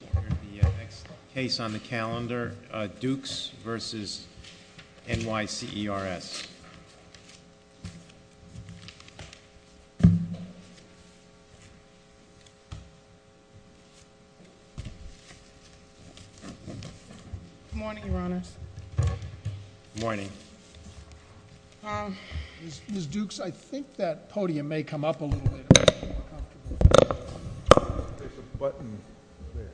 The next case on the calendar, Dukes v. NYCERS. Good morning, Your Honors. Good morning. Ms. Dukes, I think that podium may come up a little bit. There's a button there.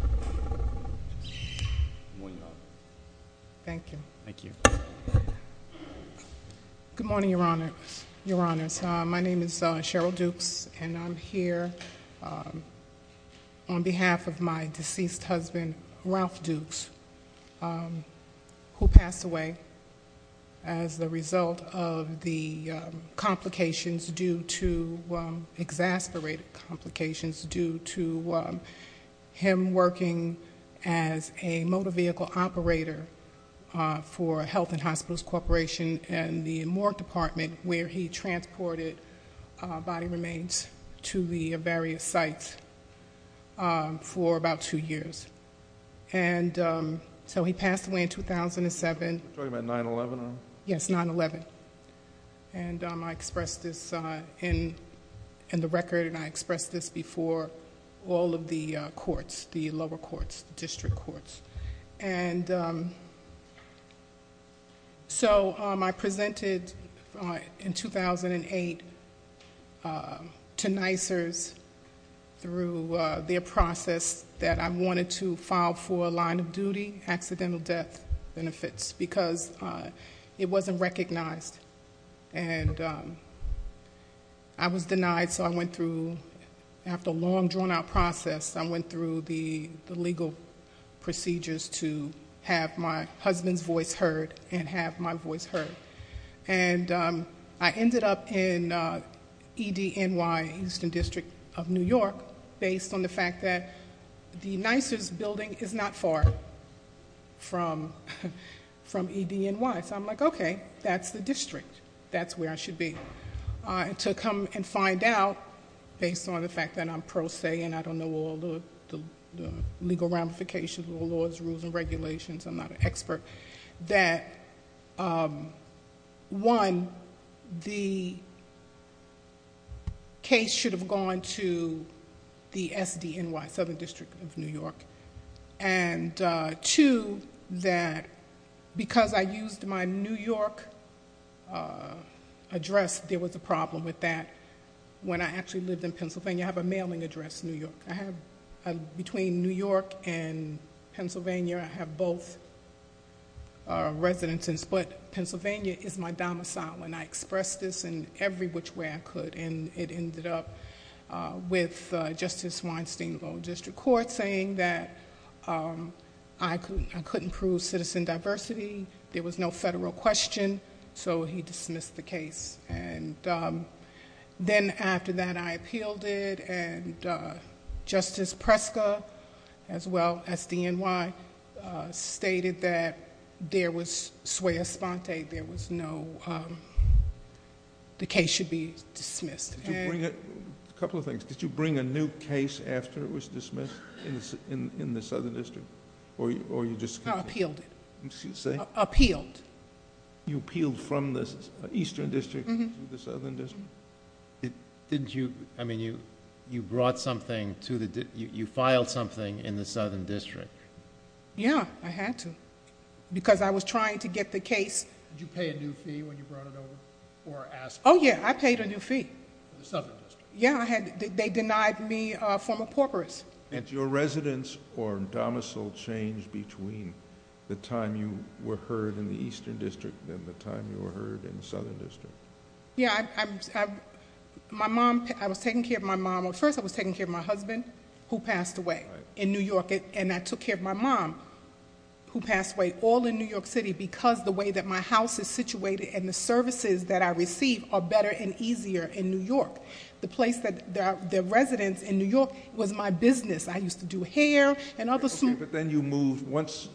Good morning, Your Honor. Thank you. Thank you. Good morning, Your Honors. My name is Cheryl Dukes, and I'm here on behalf of my deceased husband, Ralph Dukes, who passed away as the result of the complications due to, exasperated complications due to him working as a motor vehicle operator for Health and Hospitals Corporation in the morgue department, where he transported body remains to the various sites for about two years. He passed away in 2007. You're talking about 9-11? Yes, 9-11. I expressed this in the record, and I expressed this before all of the courts, the lower courts, the district courts. And so I presented in 2008 to NYCERS through their process that I wanted to file for a line of duty, accidental death benefits, because it wasn't recognized, and I was denied. So I went through, after a long, drawn-out process, I went through the legal procedures to have my husband's voice heard and have my voice heard. And I ended up in EDNY, Houston District of New York, based on the fact that the NYCERS building is not far from EDNY. So I'm like, okay, that's the district. That's where I should be. And to come and find out, based on the fact that I'm pro se and I don't know all the legal ramifications of the laws, rules, and regulations, I'm not an expert, that, one, the case should have gone to the SDNY, Southern District of New York, and two, that because I used my New York address, there was a problem with that. When I actually lived in Pennsylvania, I have a mailing address, New York. Between New York and Pennsylvania, I have both residences, but Pennsylvania is my domicile, and I expressed this in every which way I could, and it ended up with Justice Weinstein of the District Court saying that I couldn't prove citizen diversity, there was no federal question, so he dismissed the case. And then after that, I appealed it, and Justice Preska, as well, SDNY, stated that there was sui espante, there was no... the case should be dismissed. Couple of things. Did you bring a new case after it was dismissed in the Southern District, or you just... I appealed it. Excuse me? Appealed. You appealed from the Eastern District to the Southern District? Didn't you... I mean, you brought something to the... you filed something in the Southern District? Yeah, I had to, because I was trying to get the case... Did you pay a new fee when you brought it over, or ask... Oh, yeah, I paid a new fee.... to the Southern District. Yeah, I had... they denied me formal paupers. Did your residence or domicile change between the time you were heard in the Eastern District and the time you were heard in the Southern District? Yeah, I... my mom... I was taking care of my mom... First, I was taking care of my husband, who passed away in New York, and I took care of my mom, who passed away, all in New York City, because the way that my house is situated and the services that I receive are better and easier in New York. The place that... the residence in New York was my business. I used to do hair and other... Okay, but then you moved... once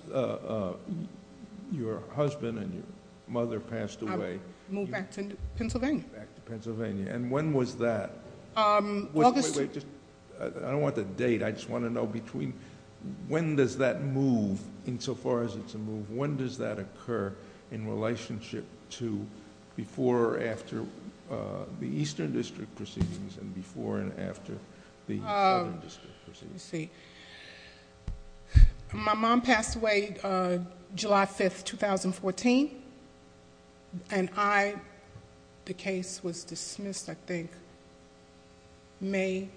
your husband and your mother passed away... I moved back to Pennsylvania. Back to Pennsylvania, and when was that? August... Wait, wait, just... I don't want the date. I just want to know between... when does that move, insofar as it's a move? When does that occur in relationship to before or after the Eastern District proceedings, and before and after the Southern District proceedings? Let me see. My mom passed away July 5, 2014, and I... the case was dismissed, I think, May,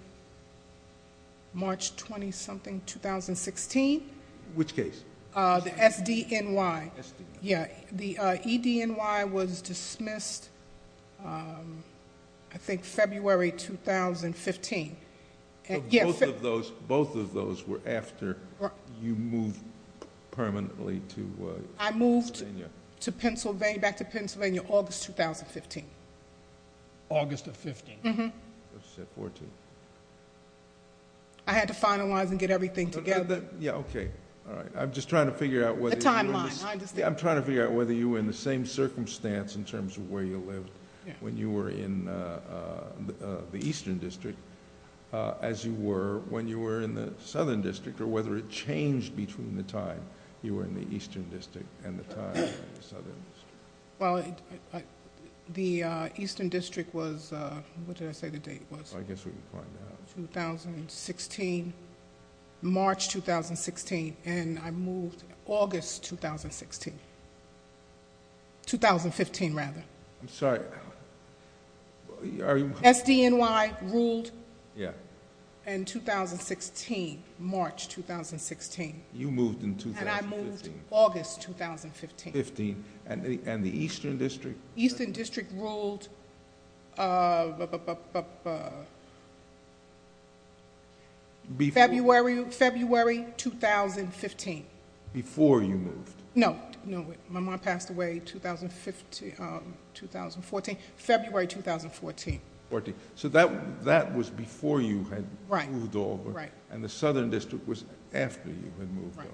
March 20-something, 2016. Which case? The SDNY. SDNY. Yeah. The EDNY was dismissed, I think, February 2015. Both of those were after you moved permanently to Pennsylvania? I moved to Pennsylvania, back to Pennsylvania, August 2015. August of 15? Mm-hmm. I said 14. I had to finalize and get everything together. Yeah, okay. All right. I'm just trying to figure out whether you were... The timeline, I understand. I'm trying to figure out whether you were in the same circumstance, in terms of where you lived, when you were in the Eastern District, as you were when you were in the Southern District, or whether it changed between the time you were in the Eastern District and the time in the Southern District. Well, the Eastern District was... what did I say the date was? I guess we can find out. 2016, March 2016, and I moved August 2016. 2015, rather. I'm sorry, are you... SDNY ruled in 2016, March 2016. You moved in 2015? And I moved August 2015. 15, and the Eastern District? Eastern District ruled February 2015. Before you moved? No, no. My mom passed away February 2014. So that was before you had moved over, and the Southern District was after you had moved over.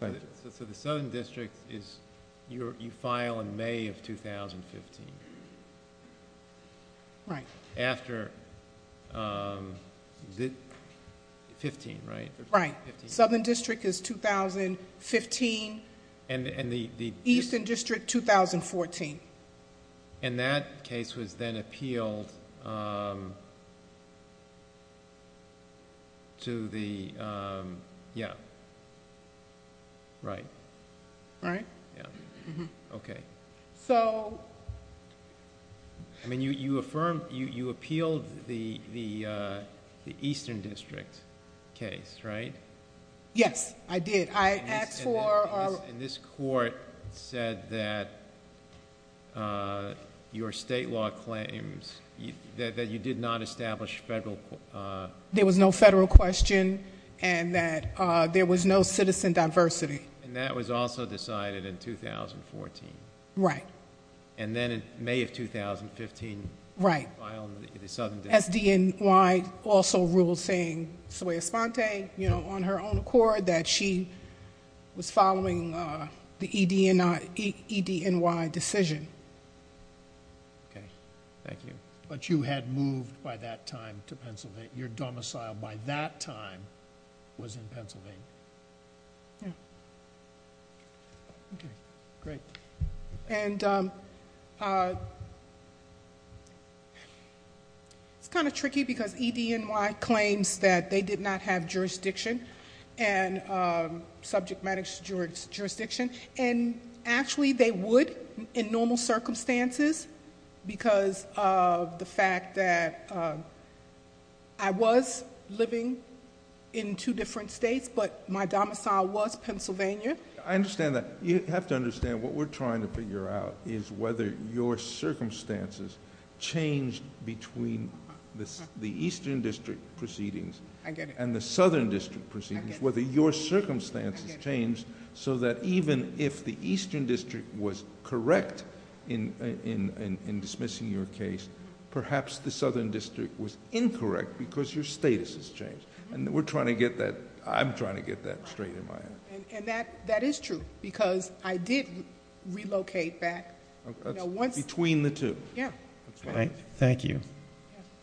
Right. So the Southern District is... you file in May of 2015. Right. After... is it 15, right? Right. Southern District is 2015. And the... Eastern District, 2014. And that case was then appealed to the... yeah. Right. Right? Yeah. Okay. So... I mean, you affirmed... you appealed the Eastern District case, right? Yes, I did. I asked for... And this court said that your state law claims... that you did not establish federal... There was no federal question, and that there was no citizen diversity. And that was also decided in 2014. Right. And then in May of 2015... Right.... you file in the Southern District. S.D.N.Y. also ruled saying, sui espante, you know, on her own accord, that she was following the E.D.N.Y. decision. Okay. Thank you. But you had moved by that time to Pennsylvania. Your domicile by that time was in Pennsylvania. Yeah. Okay. Great. And... it's kind of tricky because E.D.N.Y. claims that they did not have jurisdiction and subject matter jurisdiction. And actually, they would in normal circumstances because of the fact that I was living in two different states, but my domicile was Pennsylvania. I understand that. You have to understand what we're trying to figure out is whether your circumstances changed between the Eastern District proceedings... I get it.... and the Southern District proceedings... I get it.... whether your circumstances changed so that even if the Eastern District was correct has changed. And we're trying to get that... I'm trying to get that straight in my head. And that is true because I did relocate back... Between the two. Yeah. All right. Thank you.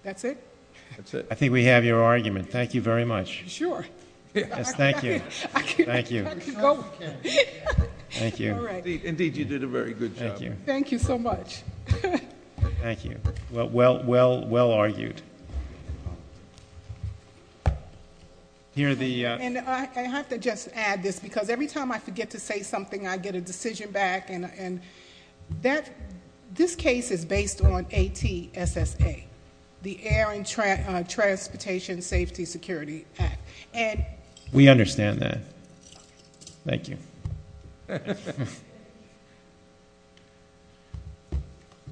That's it? That's it. I think we have your argument. Thank you very much. Sure. Yes, thank you. Thank you. Thank you. All right. Indeed, you did a very good job. Thank you. Thank you so much. Thank you. Well argued. And I have to just add this because every time I forget to say something, I get a decision back. And this case is based on ATSSA, the Air and Transportation Safety Security Act. We understand that. Thank you.